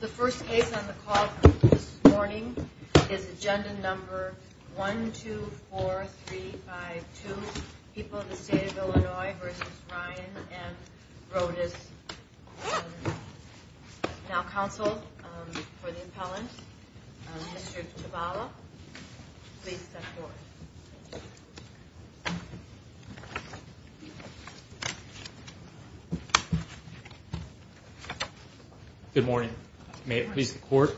The first case on the call this morning is agenda number 124352, People of the State of Illinois v. Ryan v. Roddis. Now counsel for the appellant, Mr. Chabala, please step forward. Mr. Chabala Good morning. May it please the court,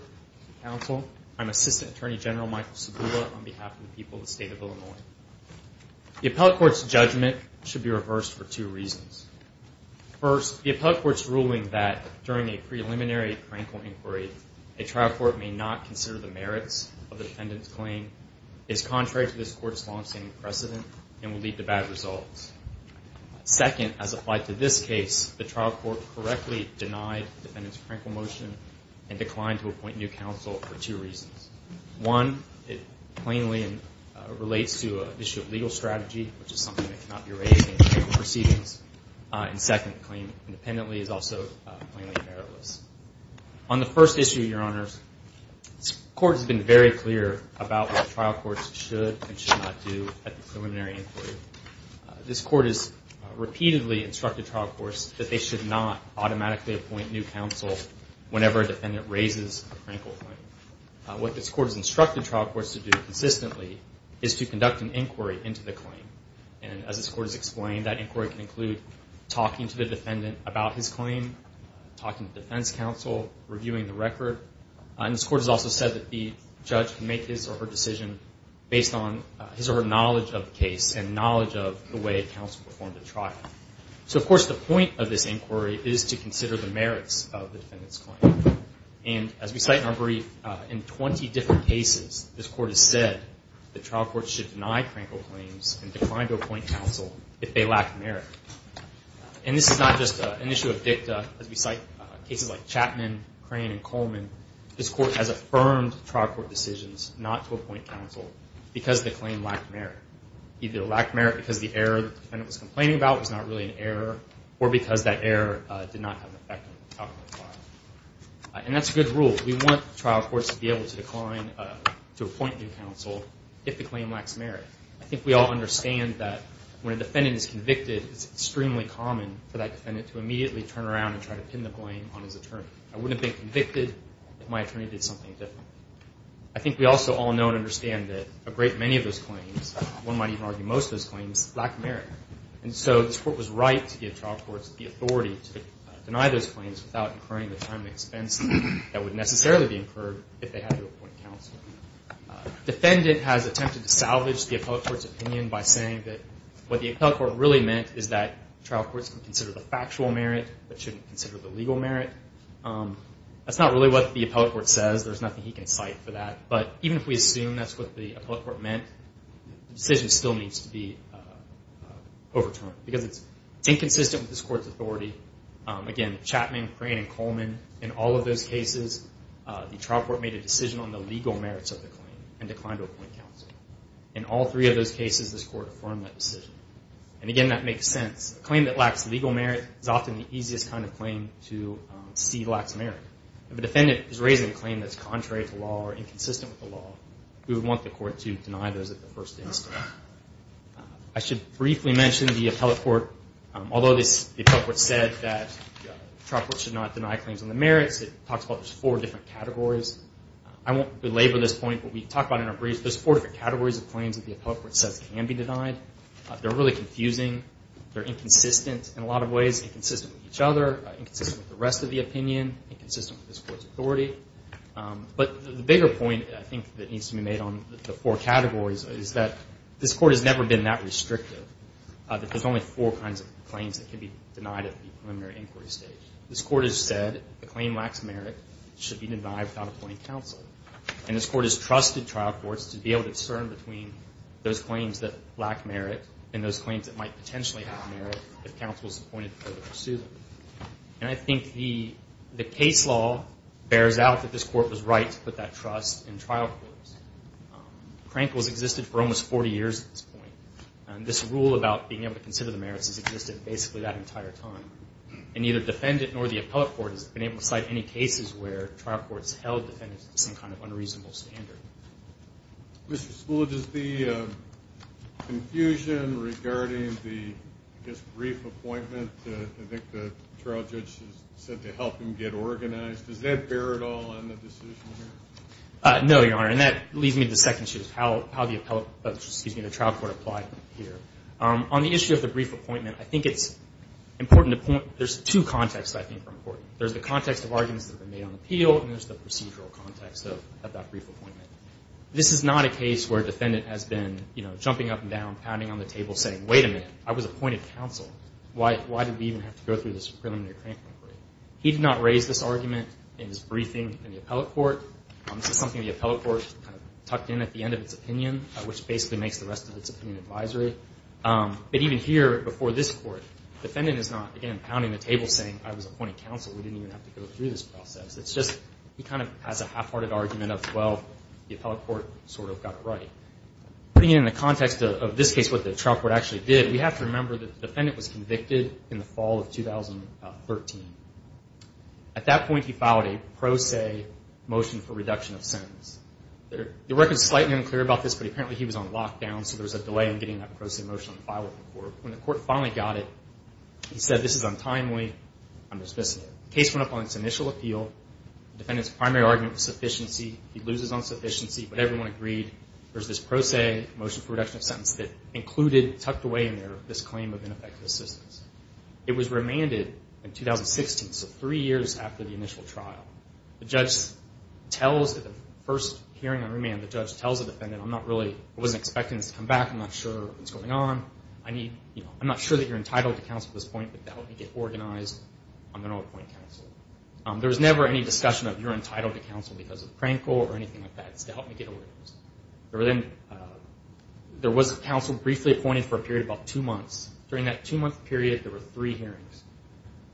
counsel, I'm Assistant Attorney General Michael Chabala on behalf of the People of the State of Illinois. The appellate court's judgment should be reversed for two reasons. First, the appellate court's ruling that during a preliminary Krankel inquiry, a trial court may not consider the merits of the defendant's claim is contrary to this court's longstanding precedent and will lead to bad results. Second, as applied to this case, the trial court correctly denied the defendant's Krankel motion and declined to appoint new counsel for two reasons. One, it plainly relates to an issue of legal strategy, which is something that cannot be raised in Krankel proceedings. And second, the claim independently is also plainly meritless. On the first issue, your honors, this court has been very clear about what trial courts should and should not do at the preliminary inquiry. This court has repeatedly instructed trial courts that they should not automatically appoint new counsel whenever a defendant raises a Krankel claim. What this court has instructed trial courts to do consistently is to conduct an inquiry into the claim. And as this court has explained, that inquiry can include talking to the defendant about his claim, talking to defense counsel, reviewing the record. And this court has also said that the judge can make his or her decision based on his or her knowledge of the case and knowledge of the way counsel performed the trial. So, of course, the point of this inquiry is to consider the merits of the defendant's claim. And as we cite in our brief, in 20 different cases, this court has said that trial courts should deny Krankel claims and decline to appoint counsel if they lack merit. And this is not just an issue of dicta, as we cite cases like Chapman, Crane, and Coleman. This court has affirmed trial court decisions not to appoint counsel because the claim lacked merit. Either it lacked merit because the error the defendant was complaining about was not really an error, or because that error did not have an effect on the outcome of the trial. And that's a good rule. We want trial courts to be able to decline to appoint new counsel if the claim lacks merit. I think we all understand that when a defendant is convicted, it's extremely common for that defendant to immediately turn around and try to pin the blame on his attorney. I wouldn't have been convicted if my attorney did something different. I think we also all know and understand that a great many of those claims, one might even argue most of those claims, lack merit. And so this court was right to give trial courts the authority to deny those claims without incurring the time and expense that would necessarily be incurred if they had to appoint counsel. Defendant has attempted to salvage the appellate court's opinion by saying that what the appellate court really meant is that trial courts can consider the factual merit but shouldn't consider the legal merit. That's not really what the appellate court says. There's nothing he can cite for that. But even if we assume that's what the appellate court meant, the decision still needs to be overturned because it's inconsistent with this court's authority. Again, Chapman, Crane, and Coleman, in all of those cases, the trial court made a decision on the legal merits of the claim and declined to appoint counsel. In all three of those cases, this court affirmed that decision. And again, that makes sense. A claim that lacks legal merit is often the easiest kind of claim to see lacks merit. If a defendant is raising a claim that's contrary to law or inconsistent with the law, we would want the court to deny those at the first instance. I should briefly mention the appellate court. Although the appellate court said that trial courts should not deny claims on the merits, it talks about four different categories. I won't belabor this point, but we talk about it in our briefs. There's four different categories of claims that the appellate court says can be denied. They're really confusing. They're inconsistent in a lot of ways, inconsistent with each other, inconsistent with the rest of the opinion, inconsistent with this court's authority. But the bigger point, I think, that needs to be made on the four categories is that this court has never been that restrictive, that there's only four kinds of claims that can be denied at the preliminary inquiry stage. This court has said a claim lacks merit, should be denied without appointing counsel. And this court has trusted trial courts to be able to discern between those claims that lack merit and those claims that might potentially have merit if counsel is appointed to pursue them. And I think the case law bears out that this court was right to put that trust in trial courts. Crankles existed for almost 40 years at this point. And this rule about being able to consider the merits has existed basically that entire time. And neither defendant nor the appellate court has been able to cite any cases where trial courts held defendants to some kind of unreasonable standard. Mr. Spoolidge, is the confusion regarding the, I guess, brief appointment, I think the trial judge said to help him get organized, does that bear at all in the decision here? No, Your Honor. And that leads me to the second issue of how the appellate, excuse me, the trial court applied here. On the issue of the brief appointment, I think it's important to point, there's two contexts I think are important. There's the context of arguments that have been made on appeal and there's the procedural context of that brief appointment. This is not a case where a defendant has been, you know, jumping up and down, pounding on the table saying, wait a minute, I was appointed counsel. Why did we even have to go through this preliminary crank appointment? He did not raise this argument in his briefing in the appellate court. This is something the appellate court kind of tucked in at the end of its opinion, which basically makes the rest of its opinion advisory. But even here before this court, the defendant is not, again, pounding the table saying, I was appointed counsel. We didn't even have to go through this process. It's just he kind of has a half-hearted argument of, well, the appellate court sort of got it right. Putting it in the context of this case, what the trial court actually did, we have to remember that the defendant was convicted in the fall of 2013. At that point, he filed a pro se motion for reduction of sentence. The record is slightly unclear about this, but apparently he was on lockdown, so there was a delay in getting that pro se motion on file with the court. When the court finally got it, he said, this is untimely. I'm dismissing it. The case went up on its initial appeal. The defendant's primary argument was sufficiency. He loses on sufficiency, but everyone agreed. There's this pro se motion for reduction of sentence that included, tucked away in there, this claim of ineffective assistance. It was remanded in 2016, so three years after the initial trial. The judge tells, at the first hearing on remand, the judge tells the defendant, I'm not really, I wasn't expecting this to come back. I'm not sure what's going on. I'm not sure that you're entitled to counsel at this point, but to help me get organized, I'm going to appoint counsel. There was never any discussion of, you're entitled to counsel because of the prank call or anything like that. It's to help me get organized. There was a counsel briefly appointed for a period of about two months. During that two-month period, there were three hearings.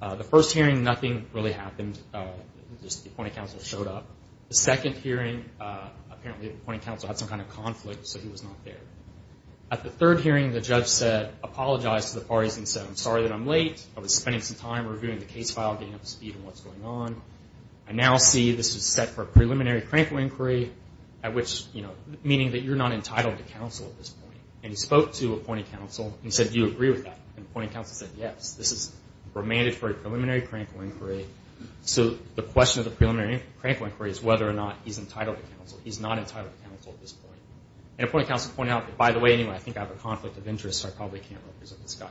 The first hearing, nothing really happened, just the appointed counsel showed up. The second hearing, apparently the appointed counsel had some kind of conflict, so he was not there. At the third hearing, the judge apologized to the parties and said, I'm sorry that I'm late. I was spending some time reviewing the case file, getting up to speed on what's going on. I now see this is set for a preliminary crankle inquiry, meaning that you're not entitled to counsel at this point. He spoke to appointed counsel and said, do you agree with that? Appointed counsel said, yes, this is remanded for a preliminary crankle inquiry. The question of the preliminary crankle inquiry is whether or not he's entitled to counsel. He's not entitled to counsel at this point. Appointed counsel pointed out, by the way, anyway, I think I have a conflict of interest, so I probably can't represent this guy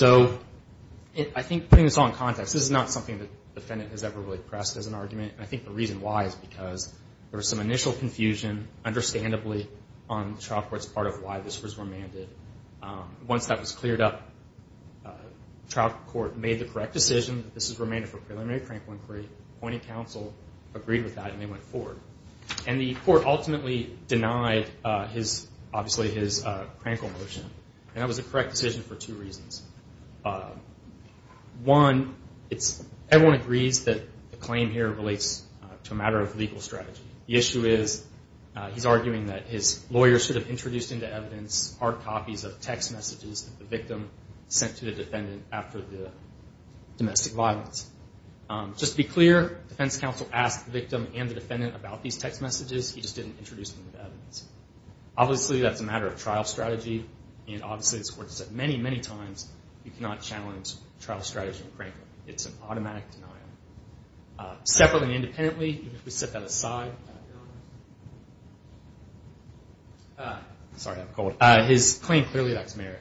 anyway. I think putting this all in context, this is not something that the defendant has ever really pressed as an argument. I think the reason why is because there was some initial confusion, understandably, on the trial court's part of why this was remanded. Once that was cleared up, the trial court made the correct decision that this is remanded for a preliminary crankle inquiry. Appointed counsel agreed with that and they went forward. The court ultimately denied, obviously, his crankle motion. That was a correct decision for two reasons. One, everyone agrees that the claim here relates to a matter of legal strategy. The issue is he's arguing that his lawyer should have introduced into evidence hard copies of text messages that the victim sent to the defendant after the domestic violence. Just to be clear, defense counsel asked the victim and the defendant about these text messages. He just didn't introduce them with evidence. Obviously, that's a matter of trial strategy, and obviously, as the court has said many, many times, you cannot challenge trial strategy with crankle. It's an automatic denial. Separately and independently, if we set that aside, his claim clearly lacks merit.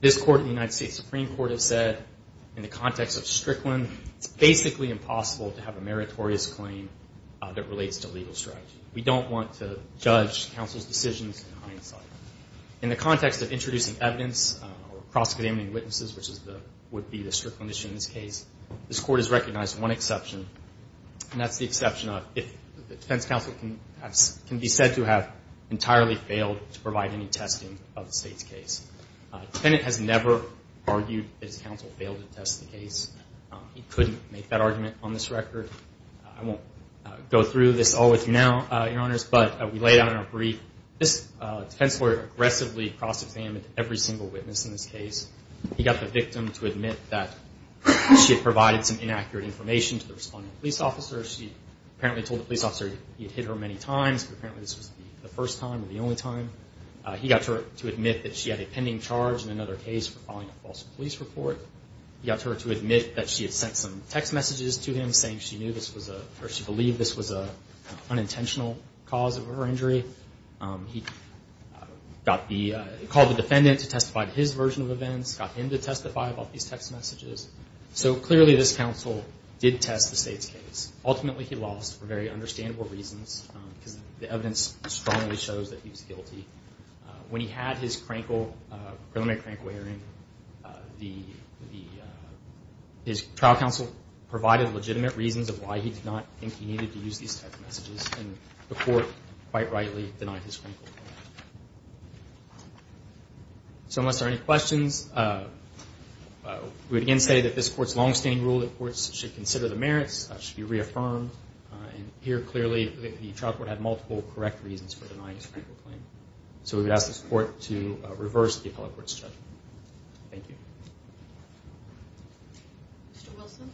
This court in the United States Supreme Court has said in the context of Strickland, it's basically impossible to have a meritorious claim that relates to legal strategy. We don't want to judge counsel's decisions in hindsight. In the context of introducing evidence or cross-examining witnesses, which would be the Strickland issue in this case, this court has recognized one exception, and that's the exception of if the defense counsel can be said to have entirely failed to provide any testing of the state's case. The defendant has never argued that his counsel failed to test the case. He couldn't make that argument on this record. I won't go through this all with you now, Your Honors, but we laid out in our brief, this defense lawyer aggressively cross-examined every single witness in this case. He got the victim to admit that she had provided some inaccurate information to the responding police officer. She apparently told the police officer he had hit her many times, but apparently this was the first time or the only time. He got her to admit that she had a pending charge in another case for filing a false police report. He got her to admit that she had sent some text messages to him saying she knew this was a or she believed this was an unintentional cause of her injury. He called the defendant to testify to his version of events, got him to testify about these text messages. So clearly this counsel did test the state's case. Ultimately he lost for very understandable reasons because the evidence strongly shows that he was guilty. When he had his preliminary crankware in, his trial counsel provided legitimate reasons of why he did not think he needed to use these text messages, and the court quite rightly denied his crankware. So unless there are any questions, we again say that this Court's longstanding rule that courts should consider the merits should be reaffirmed. And here clearly the trial court had multiple correct reasons for denying his crankware claim. So we would ask this Court to reverse the appellate court's judgment. Thank you. Mr. Wilson?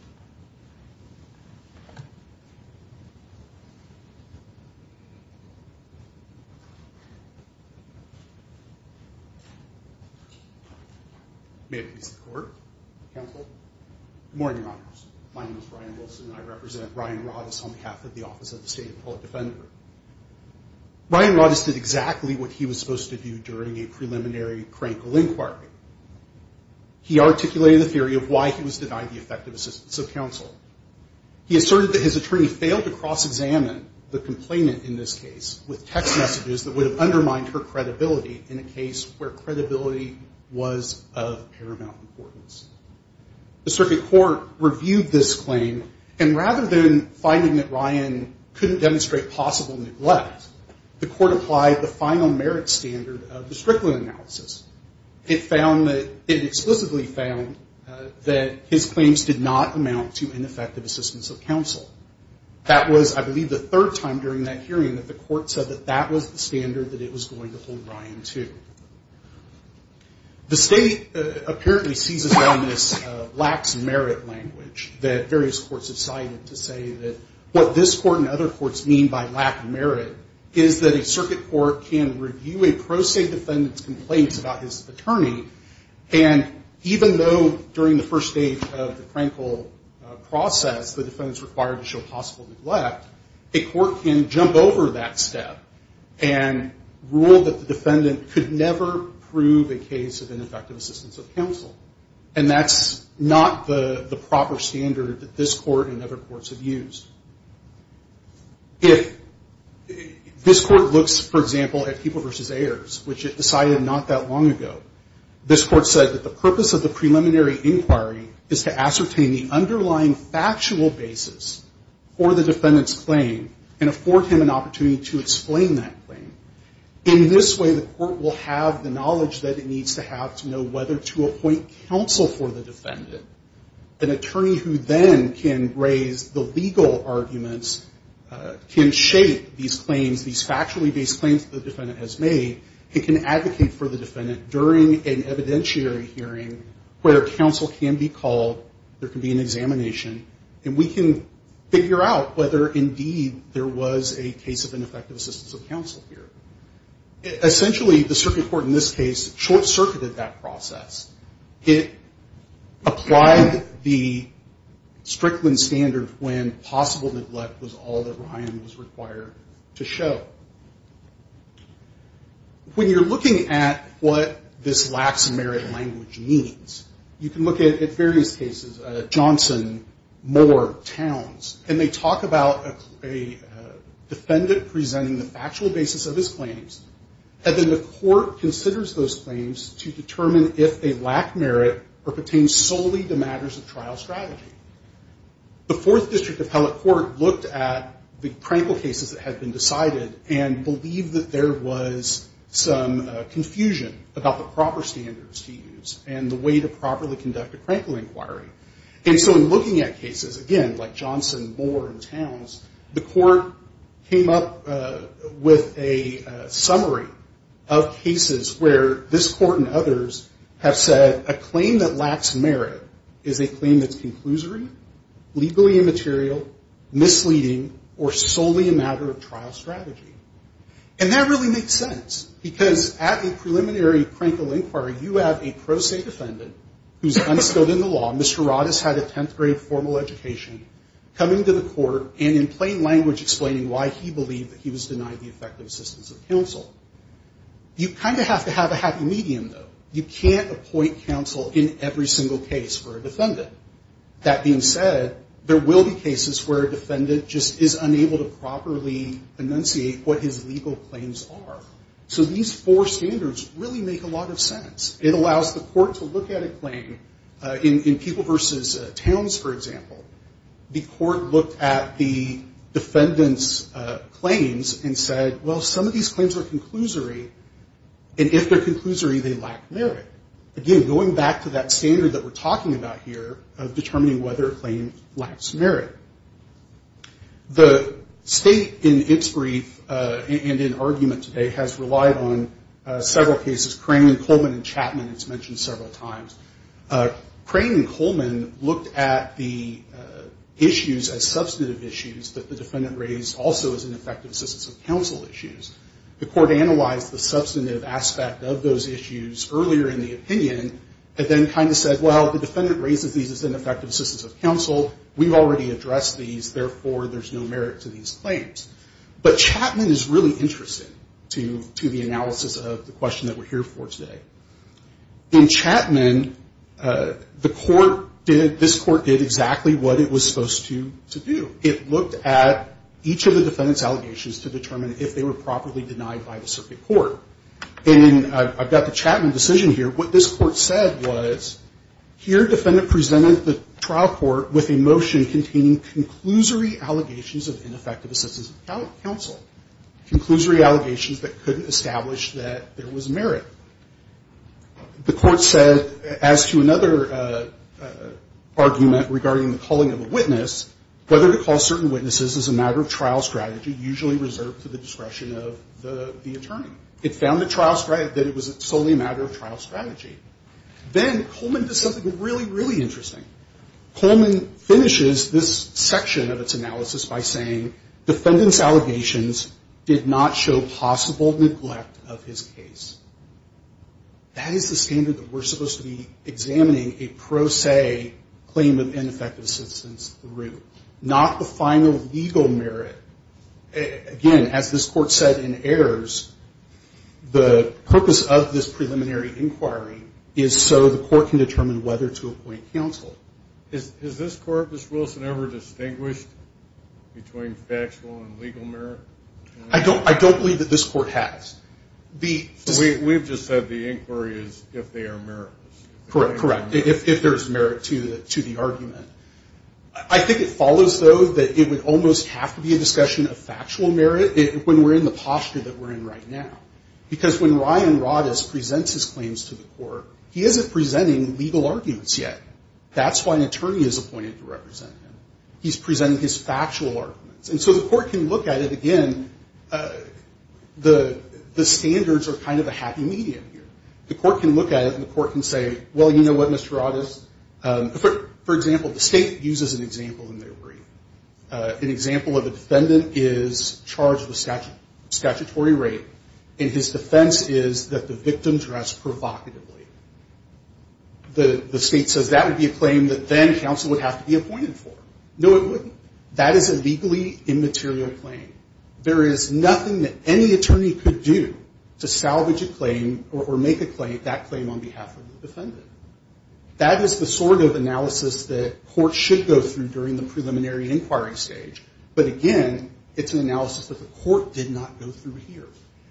May it please the Court, counsel, Good morning, Your Honors. My name is Ryan Wilson and I represent Ryan Roddice on behalf of the Office of the State Appellate Defender. Ryan Roddice did exactly what he was supposed to do during a preliminary crankle inquiry. He articulated the theory of why he was denied the effective assistance of counsel. He asserted that his attorney failed to cross-examine the complainant in this case with text messages that would have undermined her credibility in a case where credibility was of paramount importance. The circuit court reviewed this claim, and rather than finding that Ryan couldn't demonstrate possible neglect, the court applied the final merits standard of the Strickland analysis. It found that it explicitly found that his claims did not amount to ineffective assistance of counsel. That was, I believe, the third time during that hearing that the court said that that was the standard that it was going to hold Ryan to. The State apparently seizes on this lax merit language that various courts have cited to say that what this court and other courts mean by lack of merit is that a circuit court can review a pro se defendant's complaints about his attorney, and even though during the first stage of the crankle process the defendant is required to show possible neglect, a court can jump over that step and rule that the defendant could never prove a case of ineffective assistance of counsel, and that's not the proper standard that this court and other courts have used. If this court looks, for example, at People v. Ayers, which it decided not that long ago, this court said that the purpose of the preliminary inquiry is to ascertain the underlying factual basis for the defendant's claim and afford him an opportunity to explain that claim. In this way, the court will have the knowledge that it needs to have to know whether to appoint counsel for the defendant. An attorney who then can raise the legal arguments can shape these claims, these factually based claims that the defendant has made, and can advocate for the defendant during an evidentiary hearing where counsel can be called, there can be an examination, and we can figure out whether indeed there was a case of ineffective assistance of counsel here. Essentially, the circuit court in this case short-circuited that process. It applied the Strickland standard when possible neglect was all that Ryan was required to show. When you're looking at what this lacks merit language means, you can look at various cases, Johnson, Moore, Towns, and they talk about a defendant presenting the factual basis of his claims, and then the court considers those claims to determine if they lack merit or pertain solely to matters of trial strategy. The Fourth District Appellate Court looked at the Crankle cases that had been decided and believed that there was some confusion about the proper standards to use and the way to properly conduct a Crankle inquiry. And so in looking at cases, again, like Johnson, Moore, and Towns, the court came up with a summary of cases where this court and others have said that a claim that lacks merit is a claim that's conclusory, legally immaterial, misleading, or solely a matter of trial strategy. And that really makes sense, because at a preliminary Crankle inquiry, you have a pro se defendant who's understood in the law, Mr. Rod has had a 10th grade formal education, coming to the court, and in plain language explaining why he believed that he was denied the effective assistance of counsel. You kind of have to have a happy medium, though. You can't appoint counsel in every single case for a defendant. That being said, there will be cases where a defendant just is unable to properly enunciate what his legal claims are. So these four standards really make a lot of sense. It allows the court to look at a claim. In People v. Towns, for example, the court looked at the defendant's claims and said, well, some of these claims are conclusory, and if they're conclusory, they lack merit. Again, going back to that standard that we're talking about here of determining whether a claim lacks merit. The state in its brief and in argument today has relied on several cases, Crane and Coleman and Chapman, it's mentioned several times. Crane and Coleman looked at the issues as substantive issues that the defendant raised, also as ineffective assistance of counsel issues. The court analyzed the substantive aspect of those issues earlier in the opinion and then kind of said, well, the defendant raises these as ineffective assistance of counsel. We've already addressed these. Therefore, there's no merit to these claims. But Chapman is really interesting to the analysis of the question that we're here for today. In Chapman, the court did, this court did exactly what it was supposed to do. It looked at each of the defendant's allegations to determine if they were properly denied by the circuit court. And I've got the Chapman decision here. What this court said was, here defendant presented the trial court with a motion containing conclusory allegations of ineffective assistance of counsel, conclusory allegations that couldn't establish that there was merit. The court said, as to another argument regarding the calling of a witness, whether to call certain witnesses is a matter of trial strategy usually reserved to the discretion of the attorney. It found that it was solely a matter of trial strategy. Then Coleman does something really, really interesting. Coleman finishes this section of its analysis by saying, defendant's allegations did not show possible neglect of his case. That is the standard that we're supposed to be examining a pro se claim of ineffective assistance through. Not the final legal merit. Again, as this court said in Ayers, the purpose of this preliminary inquiry is so the court can determine whether to appoint counsel. Is this court, Ms. Wilson, ever distinguished between factual and legal merit? I don't believe that this court has. We've just said the inquiry is if they are meritless. Correct, correct. If there's merit to the argument. I think it follows, though, that it would almost have to be a discussion of factual merit when we're in the posture that we're in right now. Because when Ryan Rodas presents his claims to the court, he isn't presenting legal arguments yet. That's why an attorney is appointed to represent him. He's presenting his factual arguments. And so the court can look at it again. The standards are kind of a happy medium here. The court can look at it and the court can say, well, you know what, Mr. Rodas? For example, the state uses an example in their brief. An example of a defendant is charged with statutory rape, and his defense is that the victim dressed provocatively. The state says that would be a claim that then counsel would have to be appointed for. No, it wouldn't. That is a legally immaterial claim. There is nothing that any attorney could do to salvage a claim or make that claim on behalf of the defendant. That is the sort of analysis that courts should go through during the preliminary inquiry stage. But again, it's an analysis that the court did not go through here.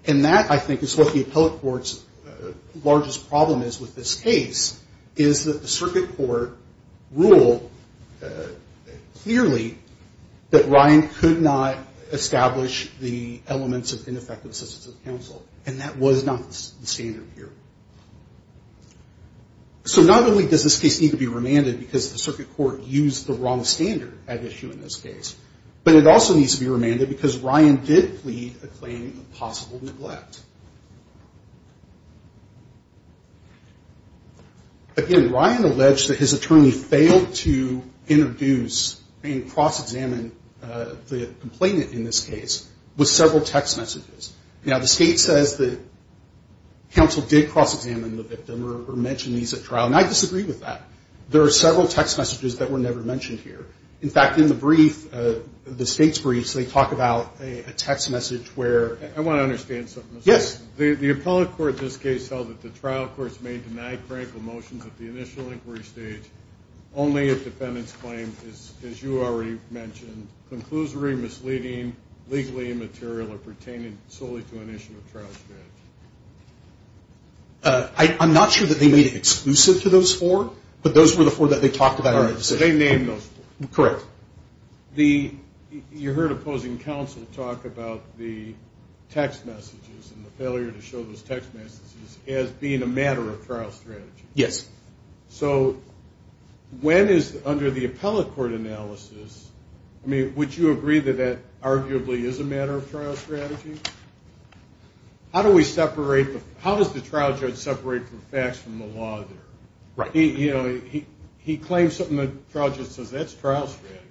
And that, I think, is what the appellate court's largest problem is with this case, is that the circuit court ruled clearly that Ryan could not establish the elements of ineffective assistance of counsel, and that was not the standard here. So not only does this case need to be remanded because the circuit court used the wrong standard at issue in this case, but it also needs to be remanded because Ryan did plead a claim of possible neglect. Again, Ryan alleged that his attorney failed to introduce and cross-examine the complainant in this case with several text messages. Now, the state says that counsel did cross-examine the victim or mention these at trial, and I disagree with that. There are several text messages that were never mentioned here. In fact, in the brief, the state's briefs, they talk about a text message where ---- I want to understand something. Yes. The appellate court in this case held that the trial courts may deny critical motions at the initial inquiry stage only if defendants claim, as you already mentioned, conclusory, misleading, legally immaterial, or pertaining solely to an issue at trial stage. I'm not sure that they made it exclusive to those four, but those were the four that they talked about in that position. All right. So they named those four. Correct. You heard opposing counsel talk about the text messages and the failure to show those text messages as being a matter of trial strategy. Yes. So when is, under the appellate court analysis, would you agree that that arguably is a matter of trial strategy? How does the trial judge separate the facts from the law there? Right. He claims something, the trial judge says, that's trial strategy.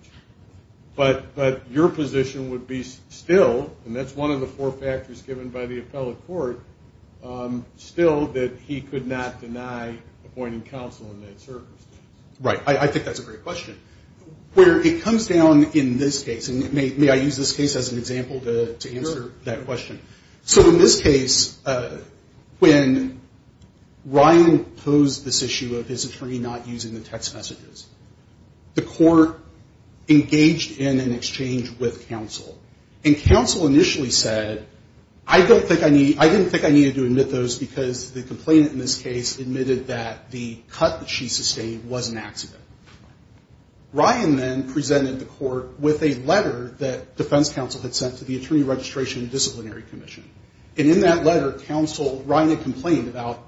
But your position would be still, and that's one of the four factors given by the appellate court, still that he could not deny appointing counsel in that circumstance. Right. I think that's a great question. Where it comes down in this case, and may I use this case as an example to answer that question? So in this case, when Ryan posed this issue of his attorney not using the text messages, the court engaged in an exchange with counsel. And counsel initially said, I don't think I need, I didn't think I needed to admit those because the complainant in this case admitted that the cut that she sustained was an accident. Ryan then presented the court with a letter that defense counsel had sent to the Attorney Registration and Disciplinary Commission. And in that letter, counsel, Ryan had complained about,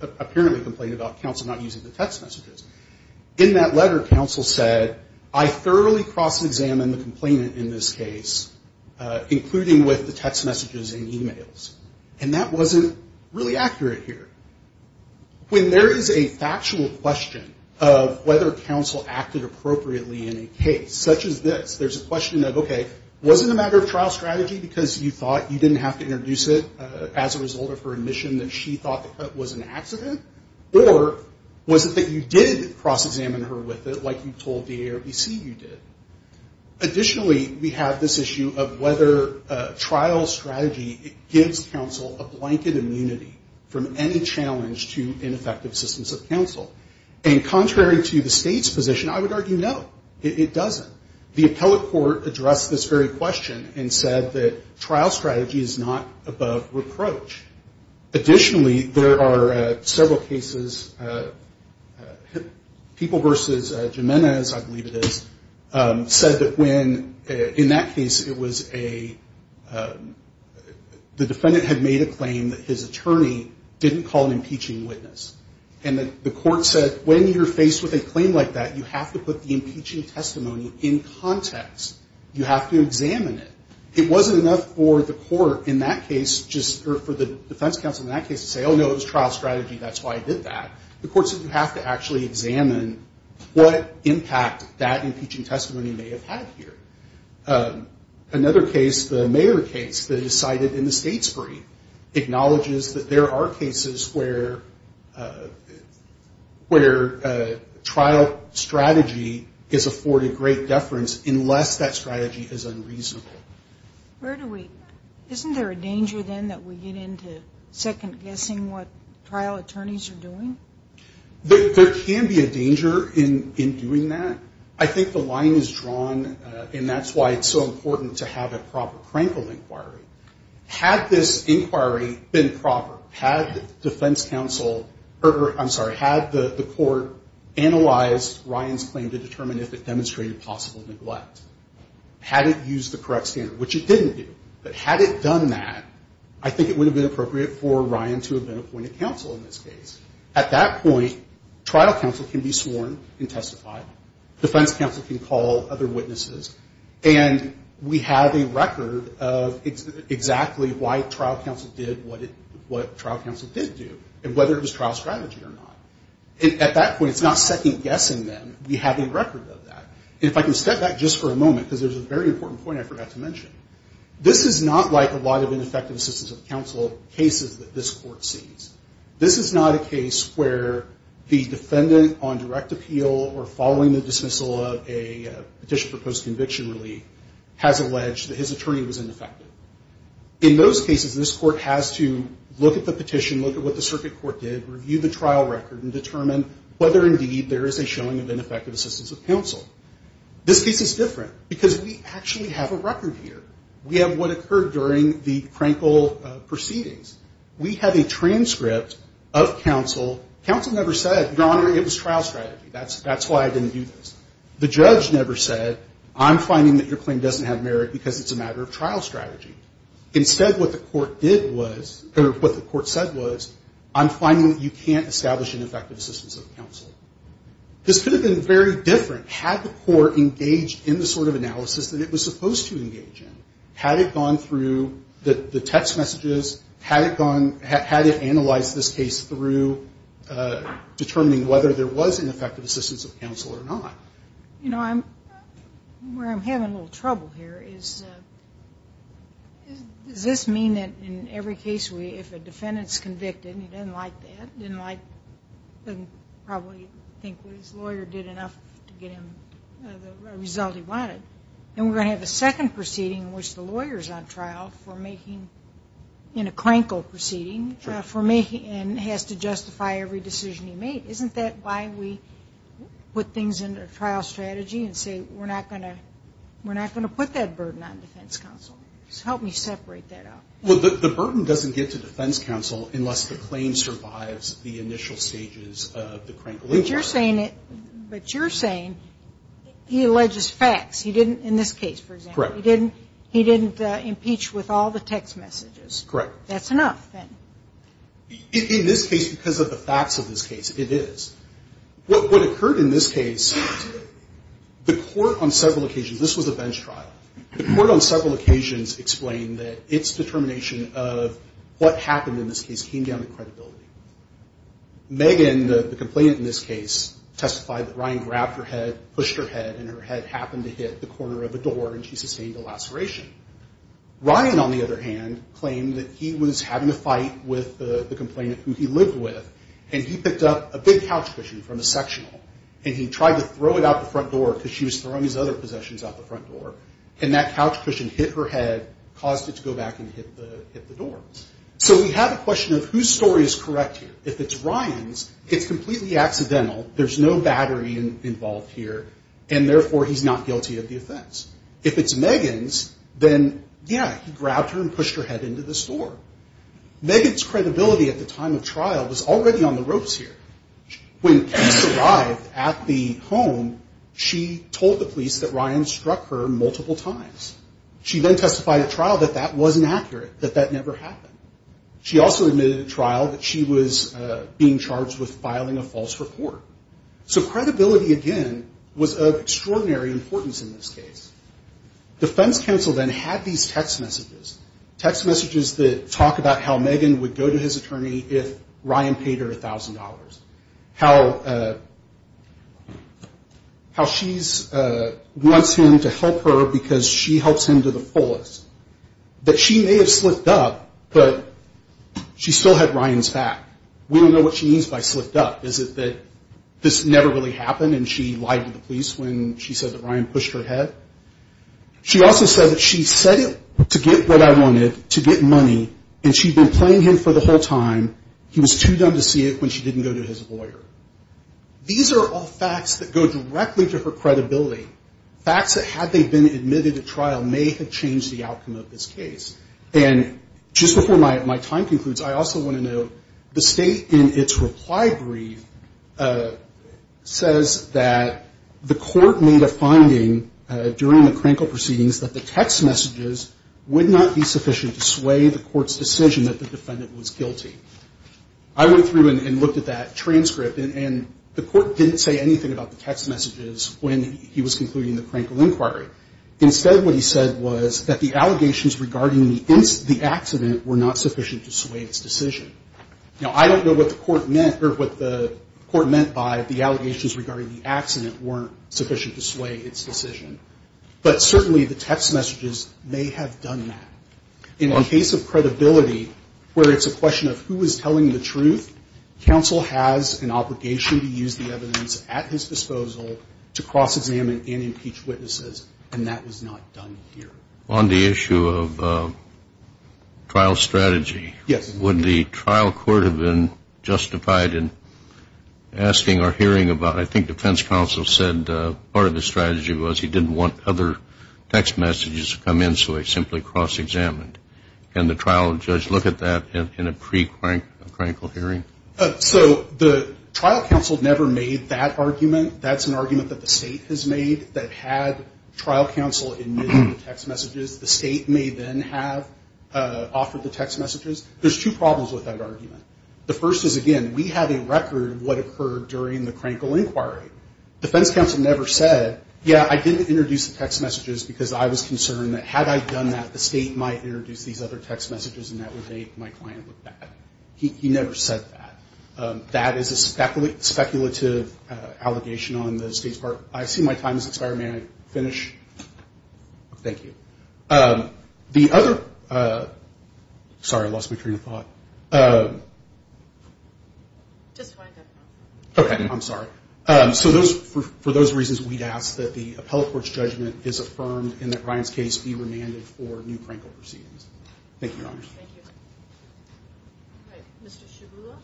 apparently complained about counsel not using the text messages. In that letter, counsel said, I thoroughly cross-examined the complainant in this case, including with the text messages and e-mails. And that wasn't really accurate here. When there is a factual question of whether counsel acted appropriately in a case such as this, there's a question of, okay, was it a matter of trial strategy because you thought you didn't have to introduce it as a result of her admission that she thought the cut was an accident? Or was it that you did cross-examine her with it like you told DA or BC you did? Additionally, we have this issue of whether trial strategy gives counsel a blanket immunity from any challenge to ineffective systems of counsel. And contrary to the state's position, I would argue, no, it doesn't. The appellate court addressed this very question and said that trial strategy is not above reproach. Additionally, there are several cases, People v. Jimenez, I believe it is, said that when, in that case, it was a, the defendant had made a claim that his attorney didn't call an impeaching witness. And the court said, when you're faced with a claim like that, you have to put the impeaching testimony in context. You have to examine it. It wasn't enough for the court in that case just, or for the defense counsel in that case to say, oh, no, it was trial strategy, that's why I did that. The court said you have to actually examine what impact that impeaching testimony may have had here. Another case, the Mayer case that is cited in the state's brief, acknowledges that there are cases where, where trial strategy is afforded great deference unless that strategy is unreasonable. Where do we, isn't there a danger then that we get into second guessing what trial attorneys are doing? There can be a danger in doing that. I think the line is drawn, and that's why it's so important to have a proper crankle inquiry. Had this inquiry been proper, had defense counsel, or I'm sorry, had the court analyzed Ryan's claim to determine if it demonstrated possible neglect, had it used the correct standard, which it didn't do, but had it done that, I think it would have been appropriate for Ryan to have been appointed counsel in this case. At that point, trial counsel can be sworn and testified. Defense counsel can call other witnesses. And we have a record of exactly why trial counsel did what trial counsel did do, and whether it was trial strategy or not. At that point, it's not second guessing them. We have a record of that. And if I can step back just for a moment, because there's a very important point I forgot to mention. This is not like a lot of ineffective assistance of counsel cases that this court sees. This is not a case where the defendant on direct appeal or following the dismissal of a petition for postconviction relief has alleged that his attorney was ineffective. In those cases, this court has to look at the petition, look at what the circuit court did, review the trial record, and determine whether, indeed, there is a showing of ineffective assistance of counsel. This case is different, because we actually have a record here. We have what occurred during the Krankel proceedings. We have a transcript of counsel. Counsel never said, Your Honor, it was trial strategy. That's why I didn't do this. The judge never said, I'm finding that your claim doesn't have merit because it's a matter of trial strategy. Instead, what the court did was, or what the court said was, I'm finding that you can't establish ineffective assistance of counsel. This could have been very different had the court engaged in the sort of analysis that it was supposed to engage in. Had it gone through the text messages? Had it analyzed this case through determining whether there was ineffective assistance of counsel or not? You know, where I'm having a little trouble here is, does this mean that in every case if a defendant's convicted and he doesn't like that, doesn't probably think what his lawyer did enough to get him the result he wanted, and we're going to have a second proceeding in which the lawyer's on trial for making, in a Krankel proceeding, for making, and has to justify every decision he made? Isn't that why we put things into a trial strategy and say, we're not going to put that burden on defense counsel? Help me separate that out. Well, the burden doesn't get to defense counsel unless the claim survives the initial stages of the Krankel. But you're saying it, but you're saying he alleges facts. He didn't, in this case, for example. Correct. He didn't impeach with all the text messages. Correct. That's enough, then. In this case, because of the facts of this case, it is. What occurred in this case, the court on several occasions, this was a bench trial, the court on several occasions explained that its determination of what happened in this case came down to credibility. Megan, the complainant in this case, testified that Ryan grabbed her head, pushed her head, and her head happened to hit the corner of a door, and she sustained a laceration. Ryan, on the other hand, claimed that he was having a fight with the complainant who he lived with, and he picked up a big couch cushion from a sectional, and he tried to throw it out the front door because she was throwing his other possessions out the front door, and that couch cushion hit her head, caused it to go back and hit the door. So we have a question of whose story is correct here. If it's Ryan's, it's completely accidental. There's no battery involved here, and therefore, he's not guilty of the offense. If it's Megan's, then, yeah, he grabbed her and pushed her head into the store. Megan's credibility at the time of trial was already on the ropes here. When police arrived at the home, she told the police that Ryan struck her multiple times. She then testified at trial that that wasn't accurate, that that never happened. She also admitted at trial that she was being charged with filing a false report. So credibility, again, was of extraordinary importance in this case. Defense counsel then had these text messages, text messages that talk about how Megan would go to his attorney if Ryan paid her $1,000, how she wants him to help her because she helps him to the fullest, that she may have slipped up, but she still had Ryan's back. We don't know what she means by slipped up. Is it that this never really happened and she lied to the police when she said that Ryan pushed her head? She also said that she said it to get what I wanted, to get money, and she had been playing him for the whole time. He was too dumb to see it when she didn't go to his lawyer. These are all facts that go directly to her credibility, facts that had they been admitted at trial may have changed the outcome of this case. And just before my time concludes, I also want to note the state in its reply brief says that the court made a finding during the Krenkel proceedings that the text messages would not be sufficient to sway the court's decision that the defendant was guilty. I went through and looked at that transcript, and the court didn't say anything about the text messages when he was concluding the Krenkel inquiry. Instead, what he said was that the allegations regarding the accident were not sufficient to sway its decision. Now, I don't know what the court meant or what the court meant by the allegations regarding the accident weren't sufficient to sway its decision, but certainly the text messages may have done that. In the case of credibility, where it's a question of who was telling the truth, counsel has an obligation to use the evidence at his disposal to cross-examine and impeach witnesses, and that was not done here. On the issue of trial strategy, would the trial court have been justified in asking or hearing about, I think defense counsel said part of his strategy was he didn't want other text messages to come in, so he simply cross-examined. Can the trial judge look at that in a pre-Krenkel hearing? So the trial counsel never made that argument. That's an argument that the state has made, that had trial counsel admitted the text messages, the state may then have offered the text messages. There's two problems with that argument. The first is, again, we have a record of what occurred during the Krenkel inquiry. Defense counsel never said, yeah, I didn't introduce the text messages because I was concerned that had I done that, the state might introduce these other text messages and that would date my client with that. He never said that. That is a speculative allegation on the state's part. I see my time has expired. May I finish? Thank you. The other ‑‑ sorry, I lost my train of thought. Just wind up. Okay. I'm sorry. So for those reasons, we'd ask that the appellate court's judgment is affirmed and that Ryan's case be remanded for new Krenkel proceedings. Thank you, Your Honor. Thank you. All right. Mr. Shugula.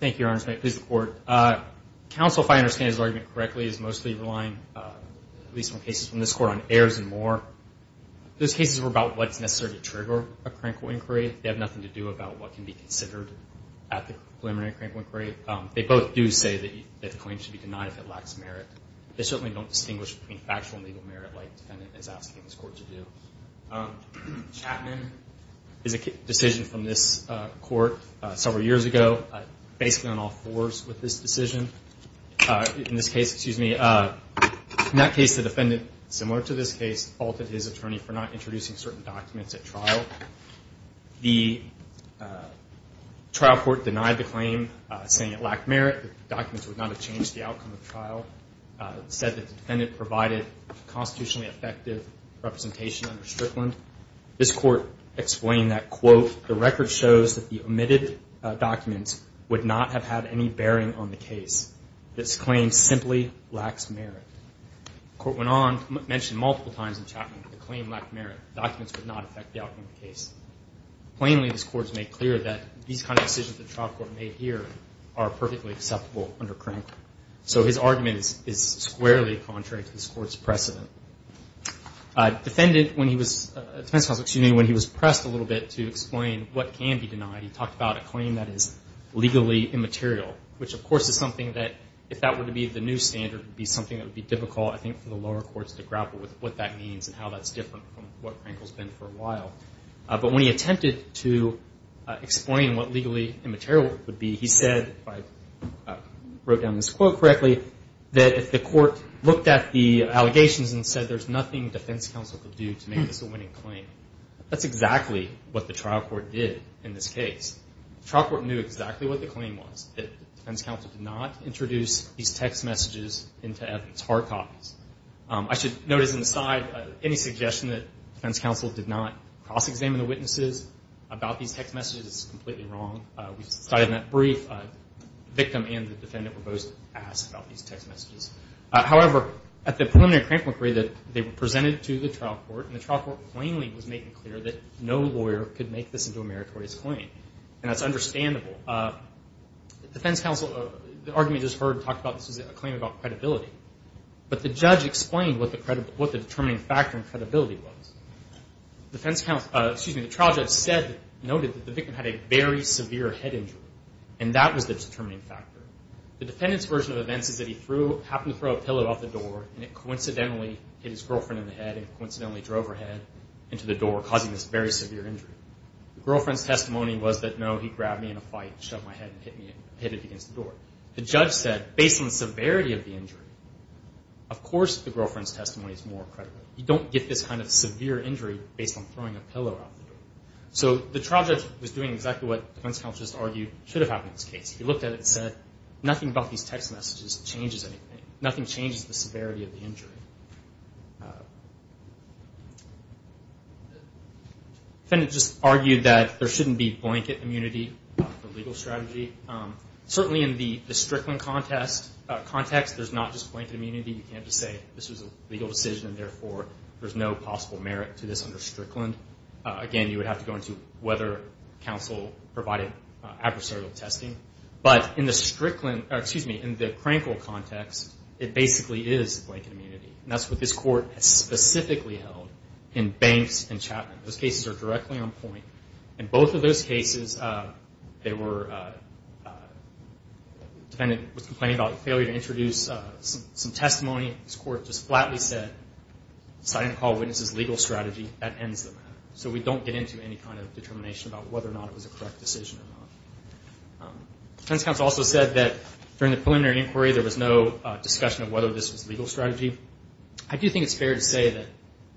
Thank you, Your Honor. Thank you, Your Honor. Counsel, if I understand his argument correctly, is mostly relying, at least in cases from this court, on errors and more. Those cases were about what's necessary to trigger a Krenkel inquiry. They have nothing to do about what can be considered at the preliminary Krenkel inquiry. They both do say that the claim should be denied if it lacks merit. They certainly don't distinguish between factual and legal merit like the defendant is asking this court to do. Chapman is a decision from this court several years ago, based on all fours with this decision. In this case, excuse me, in that case the defendant, similar to this case, faulted his attorney for not introducing certain documents at trial. The trial court denied the claim, saying it lacked merit, the documents would not have changed the outcome of the trial. It said that the defendant provided constitutionally effective representation under Strickland. This court explained that, quote, the record shows that the omitted documents would not have had any bearing on the case. This claim simply lacks merit. The court went on to mention multiple times in Chapman that the claim lacked merit. The documents would not affect the outcome of the case. Plainly, this court has made clear that these kind of decisions the trial court made here are perfectly acceptable under Krenkel. So his argument is squarely contrary to this court's precedent. Defendant, when he was pressed a little bit to explain what can be denied, he talked about a claim that is legally immaterial, which of course is something that, if that were to be the new standard, would be something that would be difficult, I think, for the lower courts to grapple with what that means and how that's different from what Krenkel's been for a while. But when he attempted to explain what legally immaterial would be, he said, if I wrote down this quote correctly, that if the court looked at the allegations and said there's nothing defense counsel could do to make this a winning claim, that's exactly what the trial court did in this case. The trial court knew exactly what the claim was, that defense counsel did not introduce these text messages into evidence hard copies. I should note as an aside, any suggestion that defense counsel did not cross-examine the witnesses about these text messages is completely wrong. We've cited in that brief, the victim and the defendant were both asked about these text messages. However, at the preliminary Krenkel inquiry, they were presented to the trial court, and the trial court plainly was making clear that no lawyer could make this into a meritorious claim. And that's understandable. Defense counsel, the argument just heard talked about this as a claim about credibility. But the judge explained what the determining factor in credibility was. The trial judge noted that the victim had a very severe head injury, and that was the determining factor. The defendant's version of events is that he happened to throw a pillow off the door, and it coincidentally hit his girlfriend in the head and coincidentally drove her head into the door, causing this very severe injury. The girlfriend's testimony was that, no, he grabbed me in a fight and shoved my head and hit it against the door. The judge said, based on the severity of the injury, of course the girlfriend's testimony is more credible. You don't get this kind of severe injury based on throwing a pillow out the door. So the trial judge was doing exactly what defense counsel just argued should have happened in this case. He looked at it and said, nothing about these text messages changes anything. Nothing changes the severity of the injury. The defendant just argued that there shouldn't be blanket immunity for legal strategy. Certainly in the Strickland context, there's not just blanket immunity. You can't just say this was a legal decision and, therefore, there's no possible merit to this under Strickland. Again, you would have to go into whether counsel provided adversarial testing. But in the Crankville context, it basically is blanket immunity. And that's what this Court has specifically held in Banks and Chapman. Those cases are directly on point. In both of those cases, the defendant was complaining about the failure to introduce some testimony. This Court just flatly said, citing the call witness's legal strategy, that ends the matter. So we don't get into any kind of determination about whether or not it was a correct decision or not. Defense counsel also said that during the preliminary inquiry, there was no discussion of whether this was legal strategy. I do think it's fair to say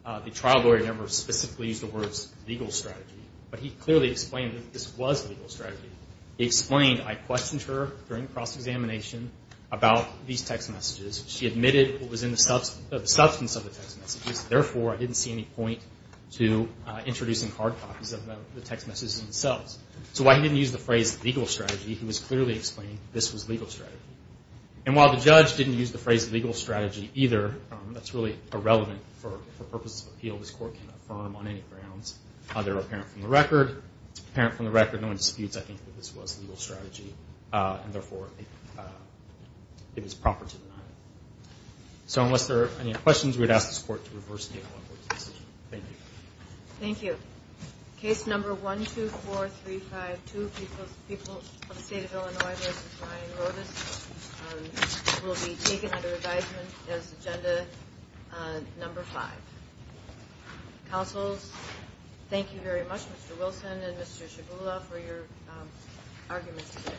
that the trial lawyer never specifically used the words legal strategy. But he clearly explained that this was legal strategy. He explained, I questioned her during cross-examination about these text messages. She admitted what was in the substance of the text messages. Therefore, I didn't see any point to introducing hard copies of the text messages themselves. So while he didn't use the phrase legal strategy, he was clearly explaining this was legal strategy. And while the judge didn't use the phrase legal strategy either, that's really irrelevant for purposes of appeal. This Court cannot affirm on any grounds other than apparent from the record. No one disputes, I think, that this was legal strategy, and therefore it was proper to deny it. So unless there are any questions, we would ask this Court to reverse the case. Thank you. Case number 124352, People of the State of Illinois v. Ryan Rodas, will be taken under advisement as agenda number 5. Counsels, thank you very much, Mr. Wilson and Mr. Shibula, for your arguments today.